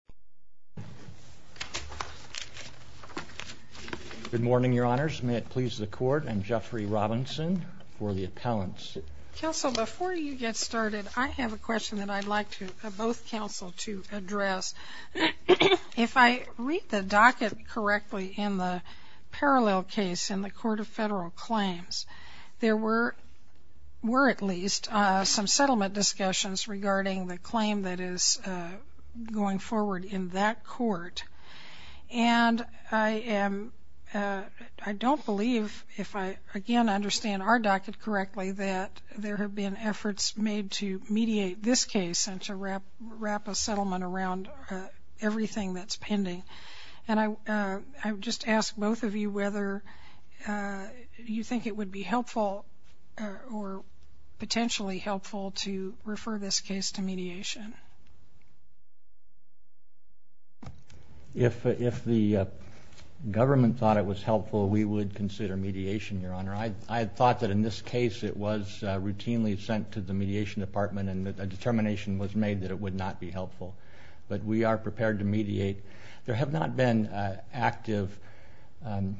Court of Federal Claims Jeffery Robinson, Attorney for the Appealants Good morning, Your Honors. May it please the Court, I'm Jeffrey Robinson for the Appellants. Counsel, before you get started, I have a question that I'd like both counsel to address. If I read the docket correctly in the parallel case in the Court of Federal Claims, there were at least some settlement discussions regarding the claim that is going forward I can see it. I can see it. I can see it. I can see it. I can see it. I can see it. courts. I don't believe, if I understand the docket correctly, that there have been efforts made to mediate this case and wrap a settlement around everything that is pending. I ask both of you if you think it would be helpful to refer this case to mediation. If the government thought it was helpful, we would consider mediation, Your Honor. I thought that in this case it was routinely sent to the mediation department and a determination was made that it would not be helpful, but we are prepared to mediate. There have not been active and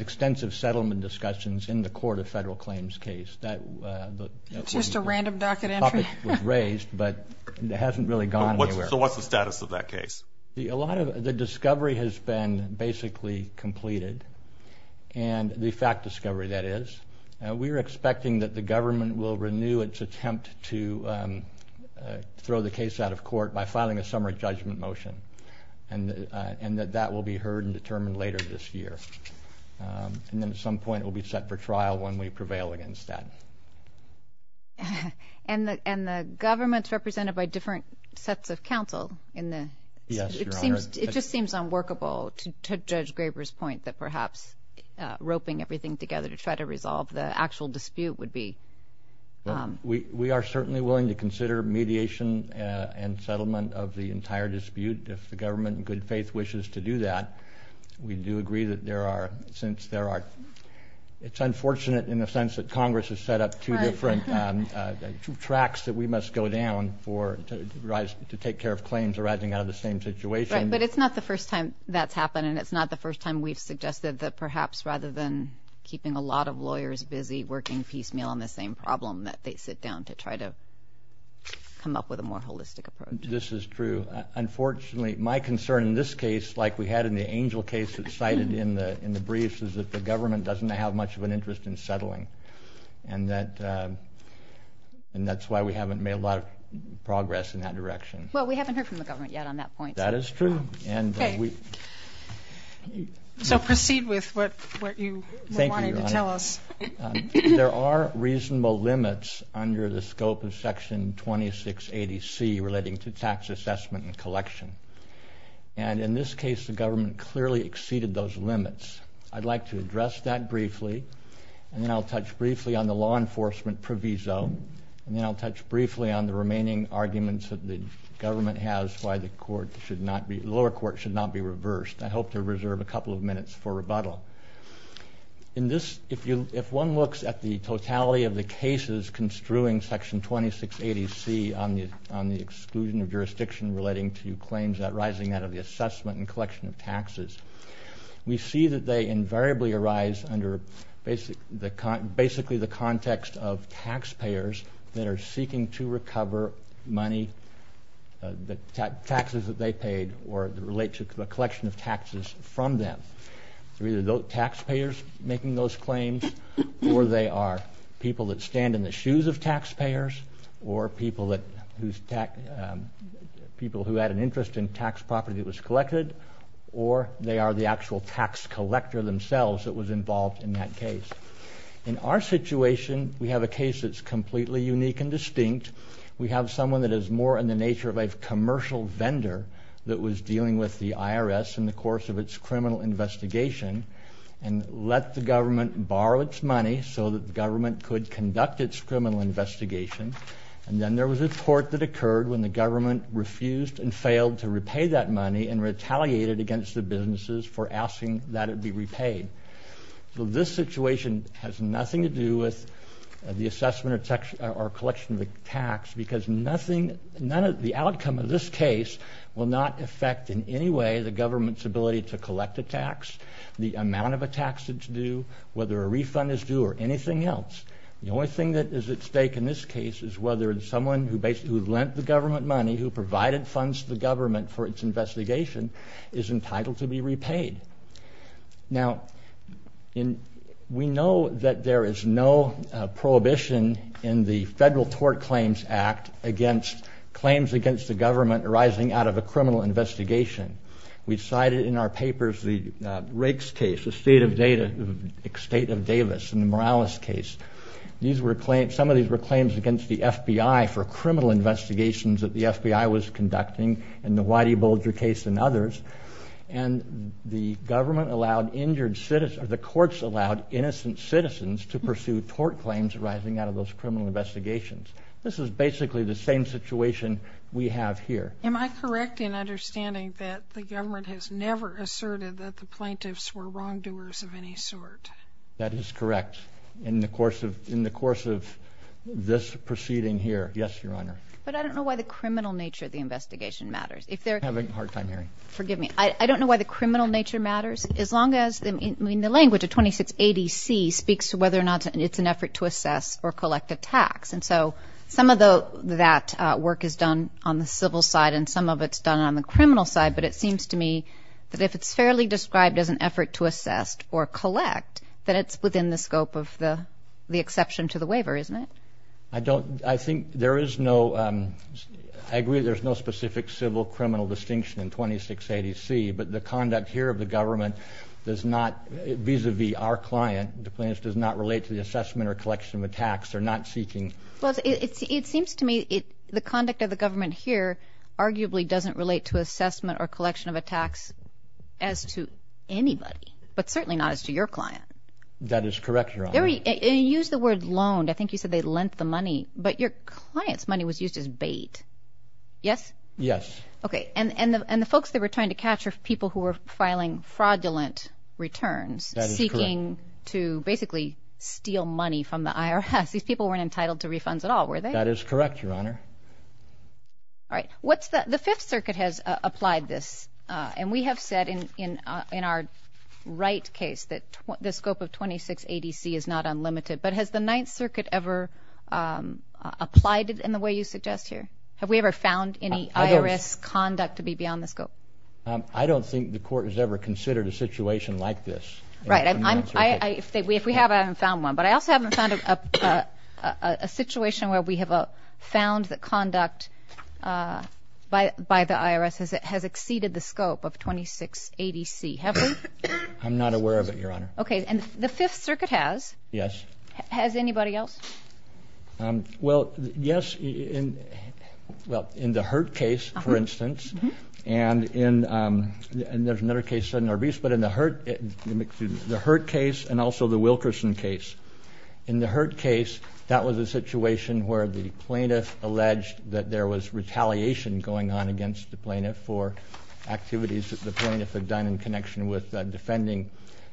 extensive settlement discussions in the Court of Federal Claims case. It's just a random docket entry? The topic was raised, but it hasn't really gone anywhere. So what's the status of that case? The discovery has been basically completed, the fact discovery, that is. We are expecting that the government will renew its attempt to throw the case out of court by filing a summary judgment motion, and that will be heard and determined later this year. And then at some point it will be set for trial when we prevail against that. And the government's represented by different sets of counsel in the... Yes, Your Honor. It just seems unworkable, to Judge Graber's point, that perhaps roping everything together to try to resolve the actual dispute would be... We are certainly willing to consider mediation and settlement of the entire dispute if the government in good faith wishes to do that. We do agree that there are, since there are... It's unfortunate in the sense that Congress has set up two different tracks that we must go down to take care of claims arising out of the same situation. Right, but it's not the first time that's happened, and it's not the first time we've suggested that perhaps rather than keeping a lot of lawyers busy working piecemeal on the same problem, that they sit down to try to come up with a more holistic approach. This is true. Unfortunately, my concern in this case, like we had in the Angel case that's cited in the briefs, is that the government doesn't have much of an interest in settling, and that's why we haven't made a lot of progress in that direction. Well, we haven't heard from the government yet on that point. That is true. Okay. So proceed with what you were wanting to tell us. There are reasonable limits under the scope of Section 2680C relating to tax assessment and collection, and in this case, the government clearly exceeded those limits. I'd like to address that briefly, and then I'll touch briefly on the law enforcement proviso, and then I'll touch briefly on the remaining arguments that the government has why the lower court should not be reversed. I hope to reserve a couple of minutes for rebuttal. In this, if one looks at the totality of the cases construing Section 2680C on the exclusion of jurisdiction relating to claims arising out of the assessment and collection of taxes, we see that they invariably arise under basically the context of taxpayers that are seeking to recover money, the taxes that they paid, or relate to a collection of taxes from them. They're either taxpayers making those claims, or they are people that stand in the shoes of taxpayers, or people who had an interest in tax property that was collected, or they are the actual tax collector themselves that was involved in that case. In our situation, we have a case that's completely unique and distinct. We have someone that is more in the nature of a commercial vendor that was dealing with the IRS in the course of its criminal investigation, and let the government borrow its money so that the government could conduct its criminal investigation, and then there was a court that occurred when the government refused and failed to repay that money and retaliated against the businesses for asking that it be repaid. So this situation has nothing to do with the assessment or collection of a tax, because the outcome of this case will not affect in any way the government's ability to collect a tax, the amount of a tax it's due, whether a refund is due, or anything else. The only thing that is at stake in this case is whether someone who lent the government money, who provided funds to the government for its investigation, is entitled to be repaid. Now, we know that there is no prohibition in the Federal Tort Claims Act against claims against the government arising out of a criminal investigation. We cited in our papers the Rakes case, the state of Davis, and the Morales case. Some of these were claims against the FBI for criminal investigations that the FBI was the government allowed injured citizens, or the courts allowed innocent citizens to pursue tort claims arising out of those criminal investigations. This is basically the same situation we have here. Am I correct in understanding that the government has never asserted that the plaintiffs were wrongdoers of any sort? That is correct. In the course of this proceeding here, yes, Your Honor. But I don't know why the criminal nature of the investigation matters. If they're— I'm having a hard time hearing. Forgive me. I don't know why the criminal nature matters, as long as—I mean, the language of 2680C speaks to whether or not it's an effort to assess or collect a tax. And so, some of that work is done on the civil side, and some of it's done on the criminal side, but it seems to me that if it's fairly described as an effort to assess or collect, that it's within the scope of the exception to the waiver, isn't it? I don't—I think there is no—I agree there's no specific civil-criminal distinction in 2680C, but the conduct here of the government does not—vis-a-vis our client, the plaintiffs does not relate to the assessment or collection of a tax. They're not seeking— Well, it seems to me the conduct of the government here arguably doesn't relate to assessment or collection of a tax as to anybody, but certainly not as to your client. That is correct, Your Honor. And you used the word loaned. I think you said they lent the money, but your client's money was used as bait. Yes? Yes. Okay. And the folks they were trying to catch are people who were filing fraudulent returns— That is correct. —seeking to basically steal money from the IRS. These people weren't entitled to refunds at all, were they? That is correct, Your Honor. All right. What's the—the Fifth Circuit has applied this, and we have said in our right case that the scope of 2680C is not unlimited, but has the Ninth Circuit ever applied it in the way you suggest here? Have we ever found any— I don't— —IRS conduct to be beyond the scope? I don't think the Court has ever considered a situation like this in the Ninth Circuit. Right. If we have, I haven't found one, but I also haven't found a situation where we have found that conduct by the IRS has exceeded the scope of 2680C, have we? I'm not aware of it, Your Honor. Okay. And the Fifth Circuit has. Yes. Has anybody else? Well, yes, in—well, in the Hurt case, for instance, and in—and there's another case in Narvis, but in the Hurt—the Hurt case and also the Wilkerson case. In the Hurt case, that was a situation where the plaintiff alleged that there was retaliation going on against the plaintiff for activities that the plaintiff had done in connection with defending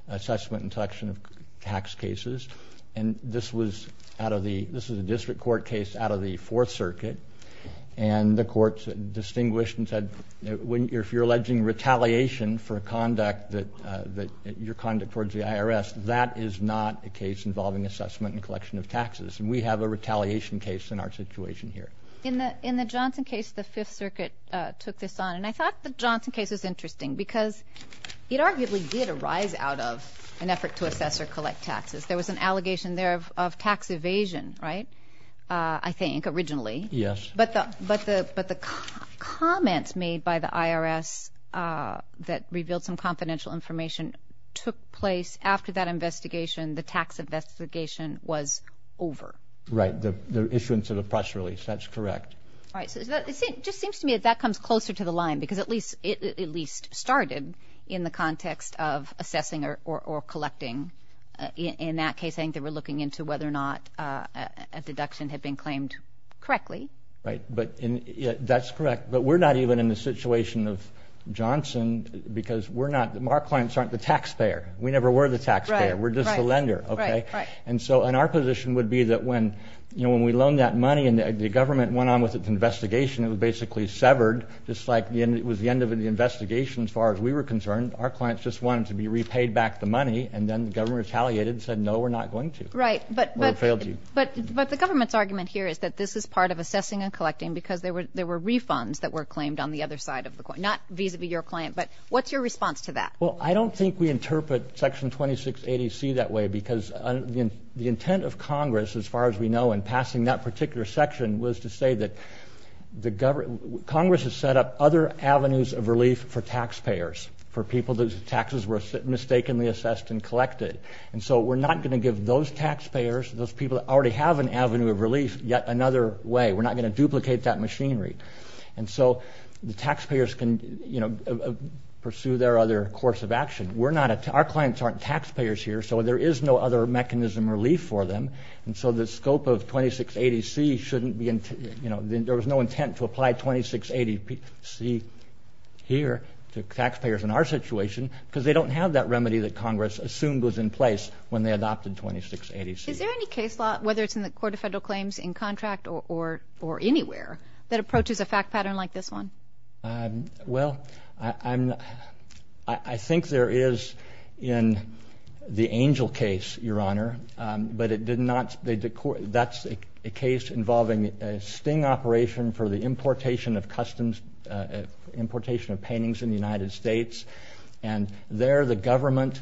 assessment and collection of tax cases. And this was out of the—this was a district court case out of the Fourth Circuit, and the Court distinguished and said, if you're alleging retaliation for conduct that—your conduct towards the IRS, that is not a case involving assessment and collection of taxes. And we have a retaliation case in our situation here. In the Johnson case, the Fifth Circuit took this on, and I thought the Johnson case was a—it arguably did arise out of an effort to assess or collect taxes. There was an allegation there of tax evasion, right, I think, originally. Yes. But the—but the—but the comments made by the IRS that revealed some confidential information took place after that investigation. The tax investigation was over. Right. The issuance of the press release, that's correct. All right. So is that—it just seems to me that that comes closer to the line, because at least—it of assessing or collecting. In that case, I think they were looking into whether or not a deduction had been claimed correctly. Right. But in—that's correct. But we're not even in the situation of Johnson because we're not—our clients aren't the taxpayer. We never were the taxpayer. Right. Right. We're just the lender, okay? Right. Right. And so—and our position would be that when, you know, when we loaned that money and the government went on with its investigation, it was basically severed, just like the end—it as far as we were concerned. Our clients just wanted to be repaid back the money, and then the government retaliated and said, no, we're not going to. Right. But—or failed to. But the government's argument here is that this is part of assessing and collecting because there were refunds that were claimed on the other side of the coin, not vis-a-vis your client. But what's your response to that? Well, I don't think we interpret Section 2680C that way because the intent of Congress, as far as we know, in passing that particular section, was to say that the—Congress has set up other avenues of relief for taxpayers, for people whose taxes were mistakenly assessed and collected. And so we're not going to give those taxpayers, those people that already have an avenue of relief, yet another way. We're not going to duplicate that machinery. And so the taxpayers can, you know, pursue their other course of action. We're not—our clients aren't taxpayers here, so there is no other mechanism of relief for them. And so the scope of 2680C shouldn't be—you know, there was no intent to apply 2680C here to taxpayers in our situation because they don't have that remedy that Congress assumed was in place when they adopted 2680C. Is there any case law, whether it's in the Court of Federal Claims, in contract, or anywhere, that approaches a fact pattern like this one? Well, I think there is in the Angel case, Your Honor, but it did not—that's a case involving a sting operation for the importation of customs—importation of paintings in the United States. And there, the government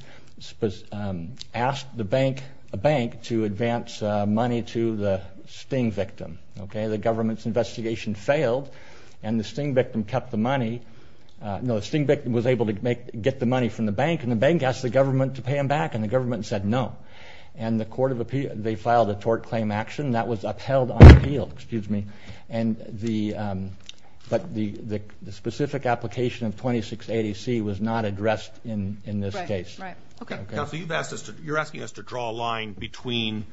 asked the bank—a bank—to advance money to the sting victim, okay? The government's investigation failed, and the sting victim kept the money—no, the sting victim was able to make—get the money from the bank, and the bank asked the government to pay him back, and the government said no. And the Court of Appeal—they filed a tort claim action that was upheld on appeal, excuse me. And the—but the specific application of 2680C was not addressed in this case. Right, right. Okay. Counsel, you've asked us to—you're asking us to draw a line between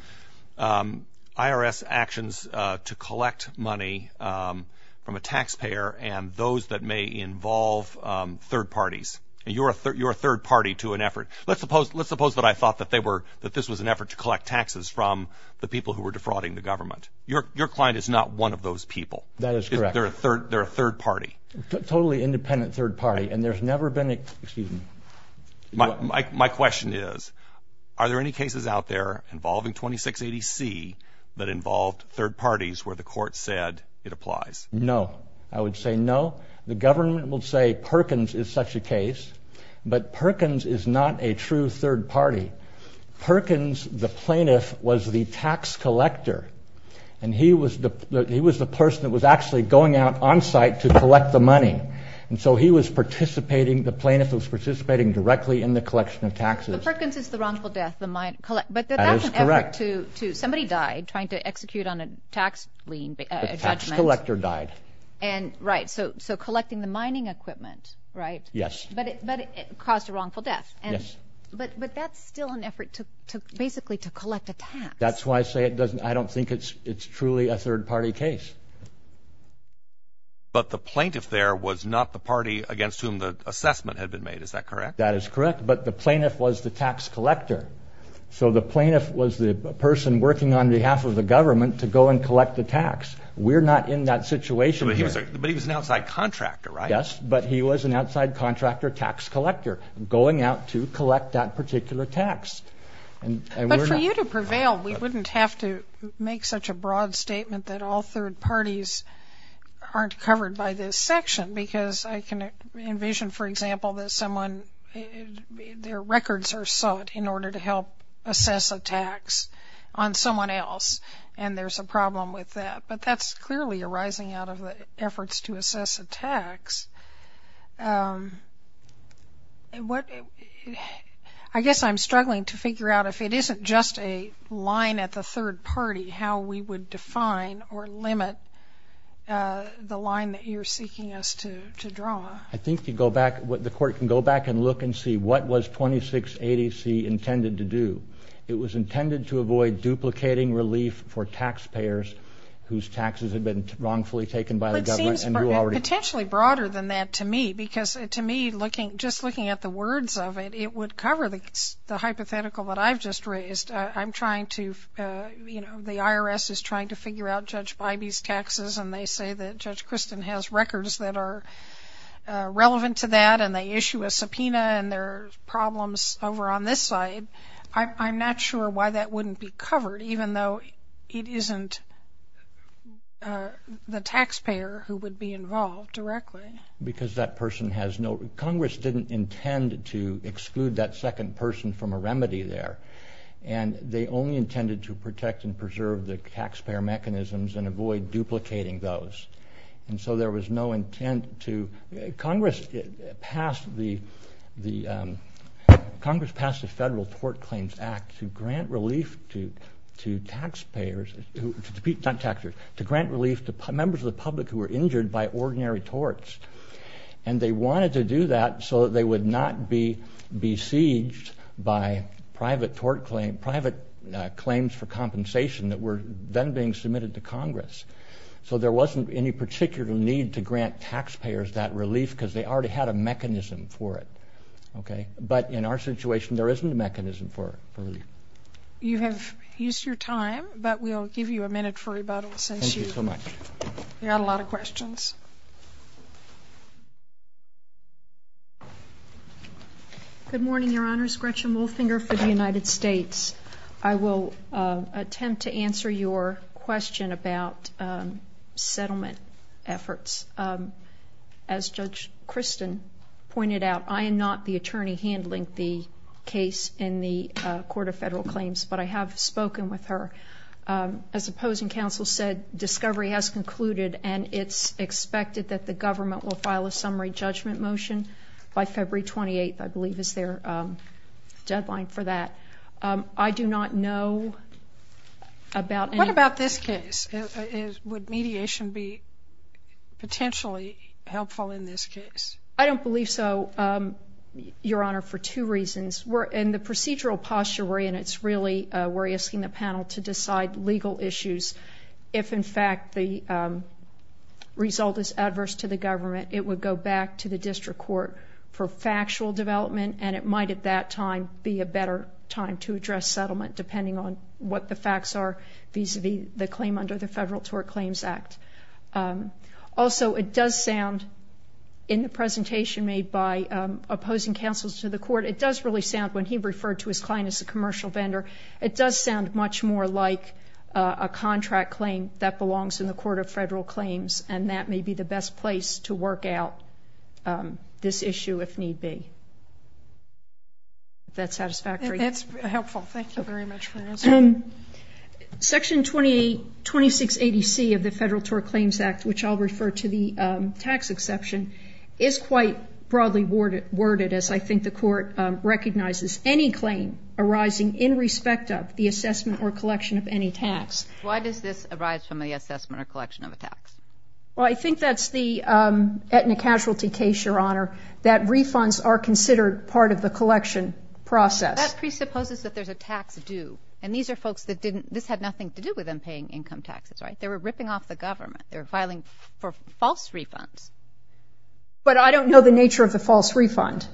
IRS actions to collect money from a taxpayer and those that may involve third parties. And you're a third party to an effort. Let's suppose that I thought that they were—that this was an effort to collect taxes from the people who were defrauding the government. Your client is not one of those people. That is correct. They're a third party. A totally independent third party, and there's never been a—excuse me. My question is, are there any cases out there involving 2680C that involved third parties where the court said it applies? No. I would say no. The government will say Perkins is such a case, but Perkins is not a true third party. Perkins, the plaintiff, was the tax collector, and he was the—he was the person that was actually going out on site to collect the money. And so he was participating—the plaintiff was participating directly in the collection of taxes. So Perkins is the wrongful death, the mine—but that's an effort to—somebody died trying to execute on a tax lien—a judgment. The tax collector died. And right, so collecting the mining equipment, right? Yes. But it caused a wrongful death. Yes. But that's still an effort to basically to collect a tax. That's why I say it doesn't—I don't think it's truly a third party case. But the plaintiff there was not the party against whom the assessment had been made. Is that correct? That is correct. But the plaintiff was the tax collector. So the plaintiff was the person working on behalf of the government to go and collect the tax. We're not in that situation here. But he was an outside contractor, right? Yes, but he was an outside contractor, tax collector, going out to collect that particular tax. And we're not— I guess I'm struggling to figure out if it isn't just a line at the third party how we would define or limit the line that you're seeking us to draw. I think you go back—the court can go back and look and see what was 2680C intended to do. It was intended to avoid duplicating relief for taxpayers whose taxes had been wrongfully taken by the government. But it seems potentially broader than that to me. Because to me, just looking at the words of it, it would cover the hypothetical that I've just raised. I'm trying to—the IRS is trying to figure out Judge Bybee's taxes, and they say that Judge Christin has records that are relevant to that, and they issue a subpoena, and there are problems over on this side. I'm not sure why that wouldn't be covered, even though it isn't the taxpayer who would be involved directly. Because that person has no—Congress didn't intend to exclude that second person from a remedy there, and they only intended to protect and preserve the taxpayer mechanisms and avoid duplicating those. And so there was no intent to—Congress passed the Federal Tort Claims Act to grant relief to taxpayers—not taxpayers—to grant relief to members of the public who were injured by ordinary torts. And they wanted to do that so that they would not be besieged by private claims for compensation that were then being submitted to Congress. So there wasn't any particular need to grant taxpayers that relief, because they already had a mechanism for it, okay? But in our situation, there isn't a mechanism for it. You have used your time, but we'll give you a minute for rebuttal since you got a lot of questions. Good morning, Your Honors. Gretchen Wolfinger for the United States. I will attempt to answer your question about settlement efforts. As Judge Christin pointed out, I am not the attorney handling the case in the Court of Federal Claims, but I have spoken with her. As opposing counsel said, discovery has concluded, and it's expected that the government will file a summary judgment motion by February 28th, I believe, is their deadline for that. I do not know about— What about this case? Would mediation be potentially helpful in this case? I don't believe so, Your Honor, for two reasons. In the procedural posture we're in, it's really—we're asking the panel to decide legal issues. If, in fact, the result is adverse to the government, it would go back to the district court for factual development, and it might at that time be a better time to address settlement depending on what the facts are vis-a-vis the claim under the Federal Tort Claims Act. Also, it does sound, in the presentation made by opposing counsel to the court, it does really sound, when he referred to his client as a commercial vendor, it does sound much more like a contract claim that belongs in the Court of Federal Claims, and that may be the best place to work out this issue if need be. That satisfactory? That's helpful. Thank you very much for your answer. Section 2680C of the Federal Tort Claims Act, which I'll refer to the tax exception, is quite broadly worded, as I think the Court recognizes any claim arising in respect of the assessment or collection of any tax. Why does this arise from the assessment or collection of a tax? Well, I think that's the ethnic casualty case, Your Honor, that refunds are considered part of the collection process. That presupposes that there's a tax due, and these are folks that didn't—this had nothing to do with them paying income taxes, right? They were ripping off the government. They were filing for false refunds. But I don't know the nature of the false refund.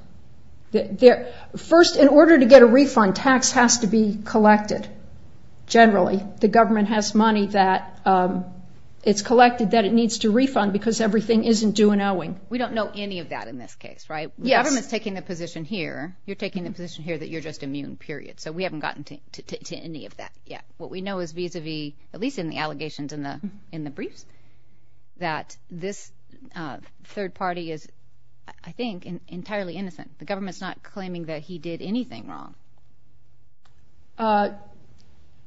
First, in order to get a refund, tax has to be collected, generally. The government has money that it's collected that it needs to refund because everything isn't due an owing. We don't know any of that in this case, right? The government's taking the position here. You're taking the position here that you're just immune, period. So we haven't gotten to any of that yet. What we know is vis-a-vis, at least in the allegations in the briefs, that this third party is, I think, entirely innocent. The government's not claiming that he did anything wrong.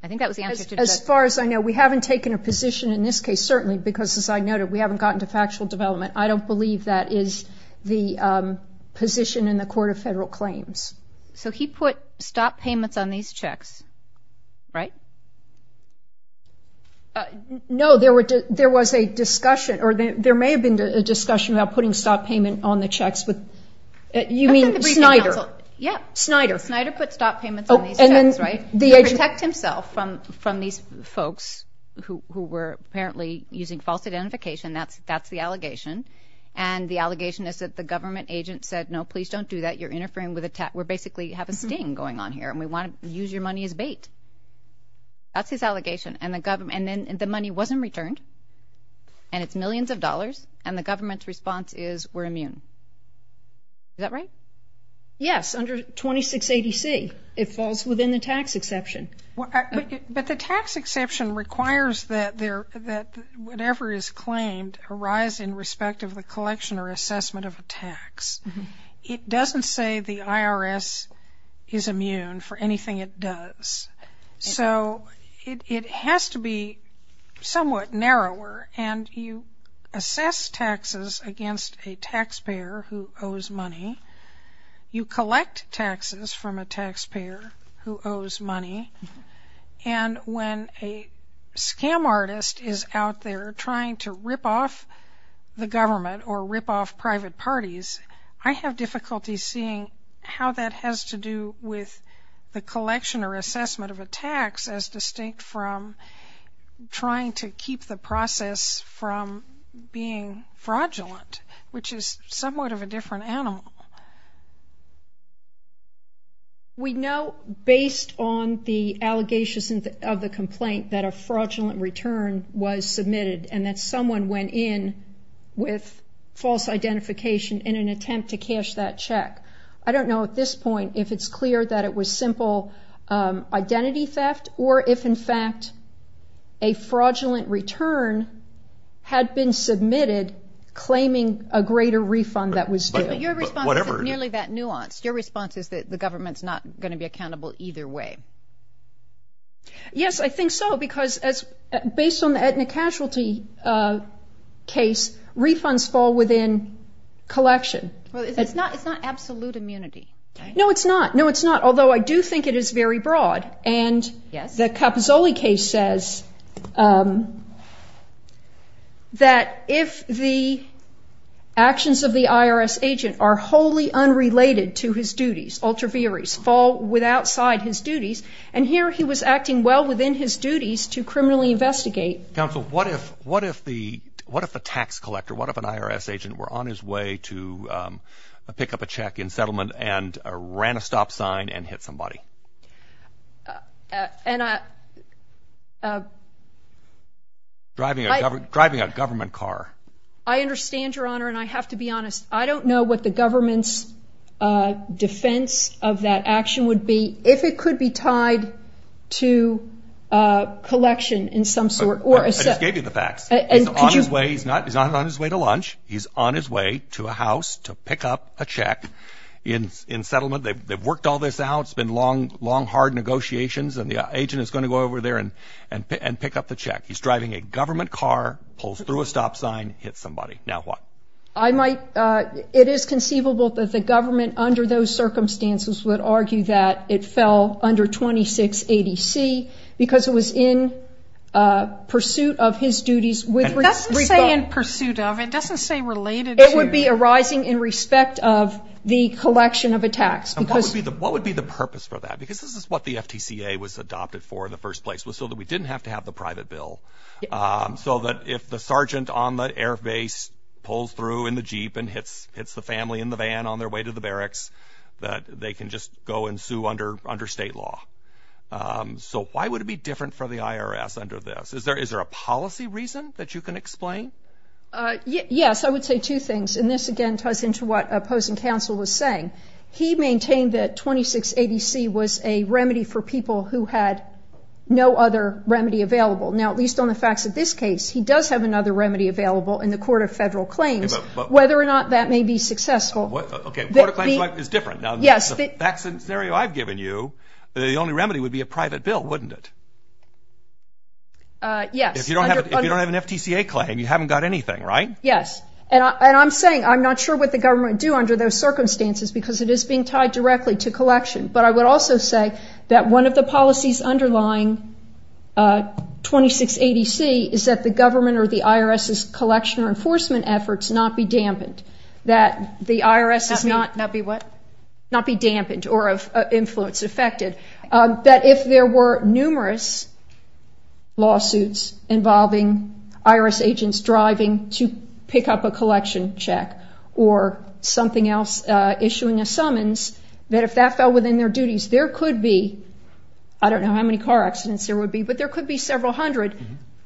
I think that was the answer to the question. As far as I know, we haven't taken a position in this case, certainly, because as I noted, we haven't gotten to factual development. I don't believe that is the position in the Court of Federal Claims. So he put stop payments on these checks, right? No, there was a discussion, or there may have been a discussion about putting stop payment on the checks, but you mean Snyder. Yeah. Snyder. Snyder put stop payments on these checks, right? Oh, and then the agent... To protect himself from these folks who were apparently using false identification, that's the allegation, and the allegation is that the government agent said, no, please don't do that. You're interfering with a tax... We basically have a sting going on here, and we want to use your money as bait. That's his allegation, and then the money wasn't returned, and it's millions of dollars, and the government's response is, we're immune. Is that right? Yes, under 26 ADC. It falls within the tax exception. But the tax exception requires that whatever is claimed arise in respect of the collection or assessment of a tax. It doesn't say the IRS is immune for anything it does, so it has to be somewhat narrower, and you assess taxes against a taxpayer who owes money. You collect taxes from a taxpayer who owes money, and when a scam artist is out there trying to rip off the government or rip off private parties, I have difficulty seeing how that has to do with the collection or assessment of a tax as distinct from trying to keep the process from being fraudulent, which is somewhat of a different animal. We know based on the allegations of the complaint that a fraudulent return was submitted, and that someone went in with false identification in an attempt to cash that check. I don't know at this point if it's clear that it was simple identity theft, or if in fact a fraudulent return had been submitted claiming a greater refund that was due. Your response isn't nearly that nuanced. Your response is that the government's not going to be accountable either way. Yes, I think so, because based on the Aetna casualty case, refunds fall within collection. Well, it's not absolute immunity, right? No, it's not. No, it's not, although I do think it is very broad, and the Capozzoli case says that if the actions of the IRS agent are wholly unrelated to his duties, ultra vires, fall outside his duties. And here he was acting well within his duties to criminally investigate. Counsel, what if the tax collector, what if an IRS agent were on his way to pick up a check in settlement and ran a stop sign and hit somebody? Driving a government car. I understand, Your Honor, and I have to be honest. I don't know what the government's defense of that action would be if it could be tied to collection in some sort. I just gave you the facts. He's on his way. He's not on his way to lunch. He's on his way to a house to pick up a check in settlement. They've worked all this out. It's been long, long, hard negotiations, and the agent is going to go over there and pick up the check. He's driving a government car, pulls through a stop sign, hits somebody. Now what? I might, it is conceivable that the government under those circumstances would argue that it fell under 26 ADC because it was in pursuit of his duties with rebuttal. It doesn't say in pursuit of. It doesn't say related to. It would be arising in respect of the collection of a tax. What would be the purpose for that? Because this is what the FTCA was adopted for in the first place was so that we didn't have to have the private bill. So that if the sergeant on the air base pulls through in the Jeep and hits the family in the van on their way to the barracks, that they can just go and sue under state law. So why would it be different for the IRS under this? Is there a policy reason that you can explain? Yes, I would say two things, and this again ties into what opposing counsel was saying. He maintained that 26 ADC was a remedy for people who had no other remedy available. Now at least on the facts of this case, he does have another remedy available in the Court of Federal Claims, whether or not that may be successful. Okay, the Court of Claims is different. Yes. The facts and scenario I've given you, the only remedy would be a private bill, wouldn't it? Yes. If you don't have an FTCA claim, you haven't got anything, right? Yes. And I'm saying I'm not sure what the government would do under those circumstances because it is being tied directly to collection, but I would also say that one of the policies underlying 26 ADC is that the government or the IRS's collection or enforcement efforts not be dampened. That the IRS is not- Not be what? Not be dampened or of influence affected. That if there were numerous lawsuits involving IRS agents driving to pick up a collection check or something else, issuing a summons, that if that fell within their duties, there could be, I don't know how many car accidents there would be, but there could be several hundred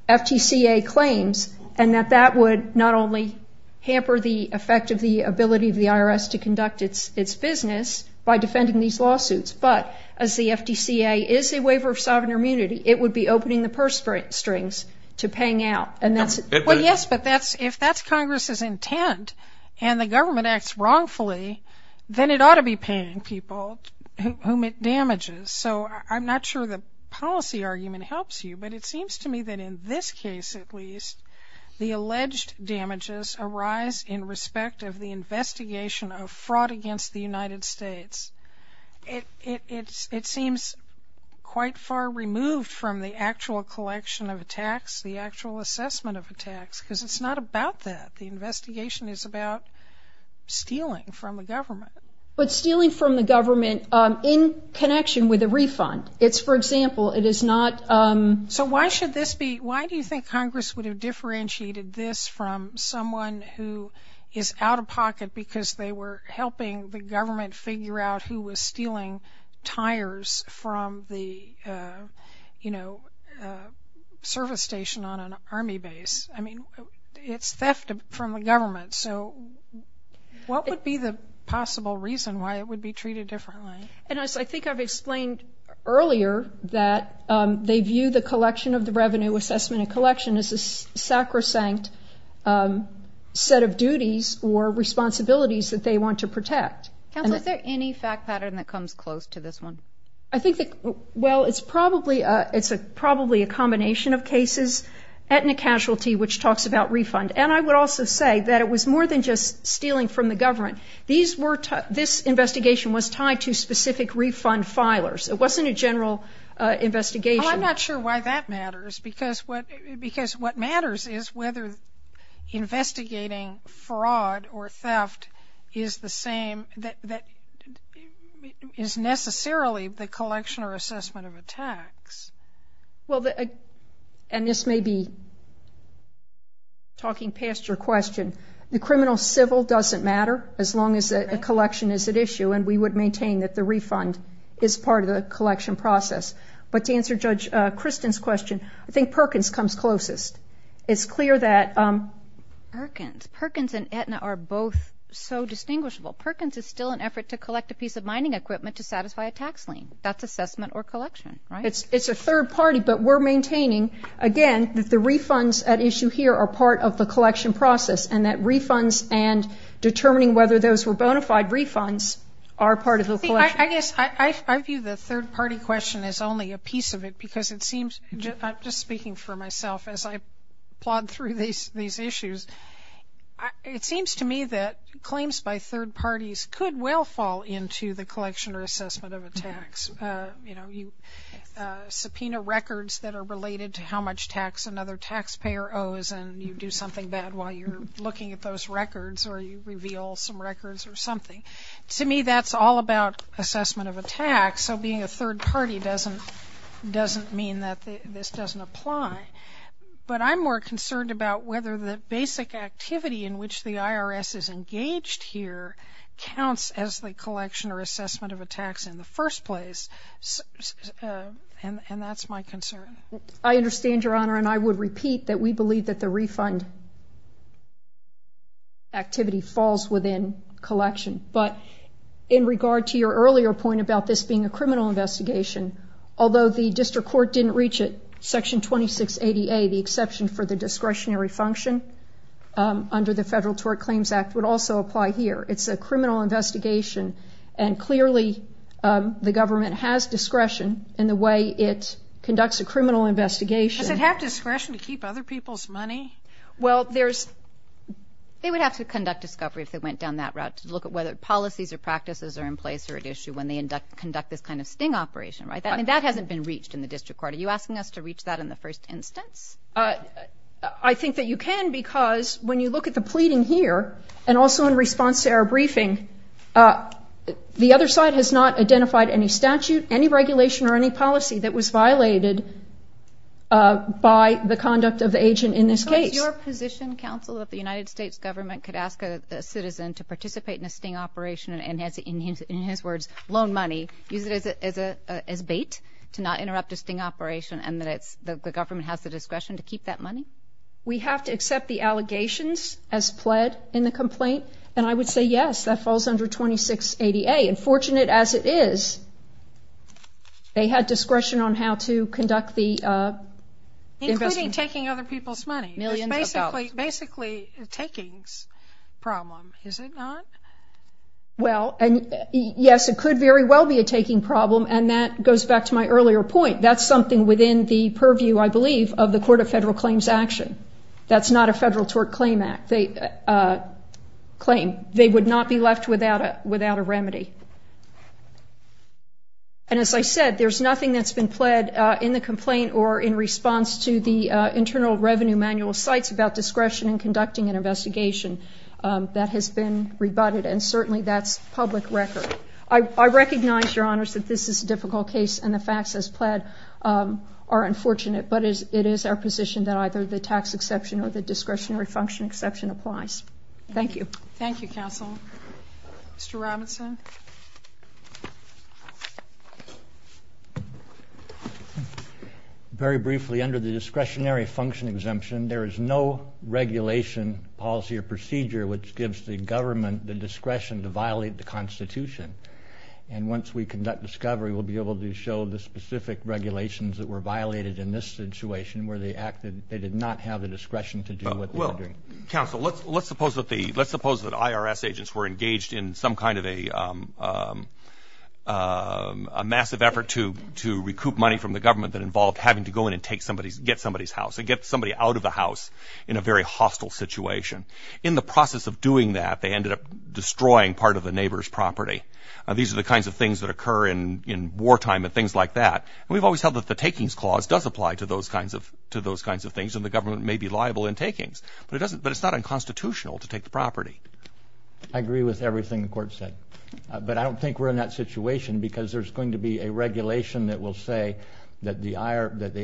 FTCA claims and that that would not only hamper the effect of the ability of the FTCA. If the FTCA is a waiver of sovereign immunity, it would be opening the purse strings to paying out and that's- Well, yes, but if that's Congress's intent and the government acts wrongfully, then it ought to be paying people whom it damages. So I'm not sure the policy argument helps you, but it seems to me that in this case at least, the alleged damages arise in respect of the investigation of fraud against the United States. It seems quite far removed from the actual collection of attacks, the actual assessment of attacks, because it's not about that. The investigation is about stealing from the government. But stealing from the government in connection with a refund. It's for example, it is not- So why should this be, why do you think Congress would have differentiated this from someone who is out of pocket because they were helping the government figure out who was stealing tires from the, you know, service station on an army base? I mean, it's theft from the government. So what would be the possible reason why it would be treated differently? And as I think I've explained earlier, that they view the collection of the revenue assessment in a collection as a sacrosanct set of duties or responsibilities that they want to protect. Counsel, is there any fact pattern that comes close to this one? I think that, well, it's probably a combination of cases, etna casualty, which talks about refund, and I would also say that it was more than just stealing from the government. These were, this investigation was tied to specific refund filers. It wasn't a general investigation. Well, I'm not sure why that matters, because what matters is whether investigating fraud or theft is the same, that is necessarily the collection or assessment of a tax. Well, and this may be talking past your question. The criminal civil doesn't matter as long as a collection is at issue, and we would maintain that the refund is part of the collection process. But to answer Judge Kristen's question, I think Perkins comes closest. It's clear that Perkins, Perkins and etna are both so distinguishable. Perkins is still an effort to collect a piece of mining equipment to satisfy a tax lien. That's assessment or collection, right? It's a third party, but we're maintaining, again, that the refunds at issue here are part of the collection process, and that refunds and determining whether those were bona fide refunds are part of the collection. I guess I view the third party question as only a piece of it, because it seems, just speaking for myself as I plod through these issues, it seems to me that claims by third parties could well fall into the collection or assessment of a tax. Subpoena records that are related to how much tax another taxpayer owes, and you do something bad while you're looking at those records, or you reveal some records or something. To me, that's all about assessment of a tax, so being a third party doesn't mean that this doesn't apply. But I'm more concerned about whether the basic activity in which the IRS is engaged here counts as the collection or assessment of a tax in the first place, and that's my concern. I understand, Your Honor, and I would repeat that we believe that the refund activity falls within collection, but in regard to your earlier point about this being a criminal investigation, although the district court didn't reach it, Section 2680A, the exception for the discretionary function under the Federal Tort Claims Act, would also apply here. It's a criminal investigation, and clearly the government has discretion in the way it conducts a criminal investigation. Does it have discretion to keep other people's money? Well, there's... They would have to conduct discovery if they went down that route to look at whether policies or practices are in place or at issue when they conduct this kind of sting operation, right? I mean, that hasn't been reached in the district court. Are you asking us to reach that in the first instance? I think that you can, because when you look at the pleading here, and also in response to our briefing, the other side has not identified any statute, any regulation, or any policy that was violated by the conduct of the agent in this case. So is your position, counsel, that the United States government could ask a citizen to participate in a sting operation and has, in his words, loan money, use it as bait to not interrupt a sting operation, and that the government has the discretion to keep that money? We have to accept the allegations as pled in the complaint, and I would say yes, that falls under 2680A. And fortunate as it is, they had discretion on how to conduct the investigation. Including taking other people's money. Millions of dollars. It's basically a takings problem, is it not? Well, and yes, it could very well be a taking problem, and that goes back to my earlier point. That's something within the purview, I believe, of the Court of Federal Claims action. That's not a federal tort claim. They claim they would not be left without a remedy. And as I said, there's nothing that's been pled in the complaint or in response to the Internal Revenue Manual cites about discretion in conducting an investigation. That has been rebutted, and certainly that's public record. I recognize, Your Honors, that this is a difficult case, and the facts as pled are unfortunate, but it is our position that either the tax exception or the discretionary function exception applies. Thank you. Thank you, Counsel. Mr. Robinson? Very briefly, under the discretionary function exemption, there is no regulation, policy, or procedure which gives the government the discretion to violate the Constitution. And once we conduct discovery, we'll be able to show the specific regulations that were in this situation where they acted, they did not have the discretion to do what they were doing. Well, Counsel, let's suppose that the, let's suppose that IRS agents were engaged in some kind of a massive effort to recoup money from the government that involved having to go in and take somebody's, get somebody's house, and get somebody out of the house in a very hostile situation. In the process of doing that, they ended up destroying part of the neighbor's property. These are the kinds of things that occur in wartime and things like that. And we've always held that the takings clause does apply to those kinds of, to those kinds of things, and the government may be liable in takings, but it doesn't, but it's not unconstitutional to take the property. I agree with everything the Court said. But I don't think we're in that situation because there's going to be a regulation that will say that the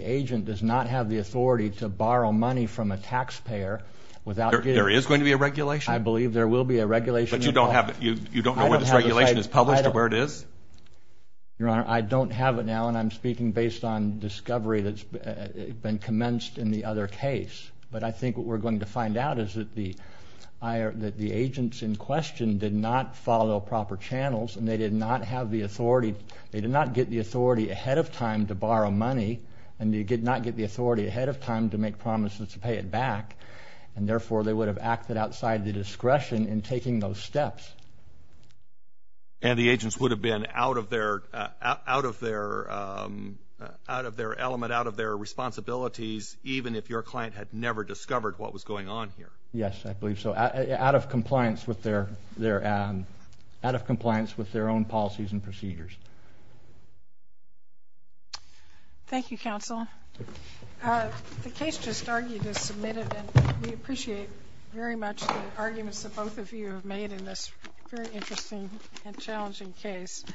agent does not have the authority to borrow money from a taxpayer without getting it. There is going to be a regulation. I believe there will be a regulation. But you don't have, you don't know where this regulation is published or where it is? Your Honor, I don't have it now, and I'm speaking based on discovery that's been commenced in the other case. But I think what we're going to find out is that the agents in question did not follow proper channels, and they did not have the authority, they did not get the authority ahead of time to borrow money, and they did not get the authority ahead of time to make promises to pay it back, and therefore they would have acted outside the discretion in taking those steps. And the agents would have been out of their element, out of their responsibilities, even if your client had never discovered what was going on here? Yes, I believe so. Out of compliance with their own policies and procedures. Thank you, Counsel. The case just argued is submitted, and we appreciate very much the arguments that both of you have made in this very interesting and challenging case.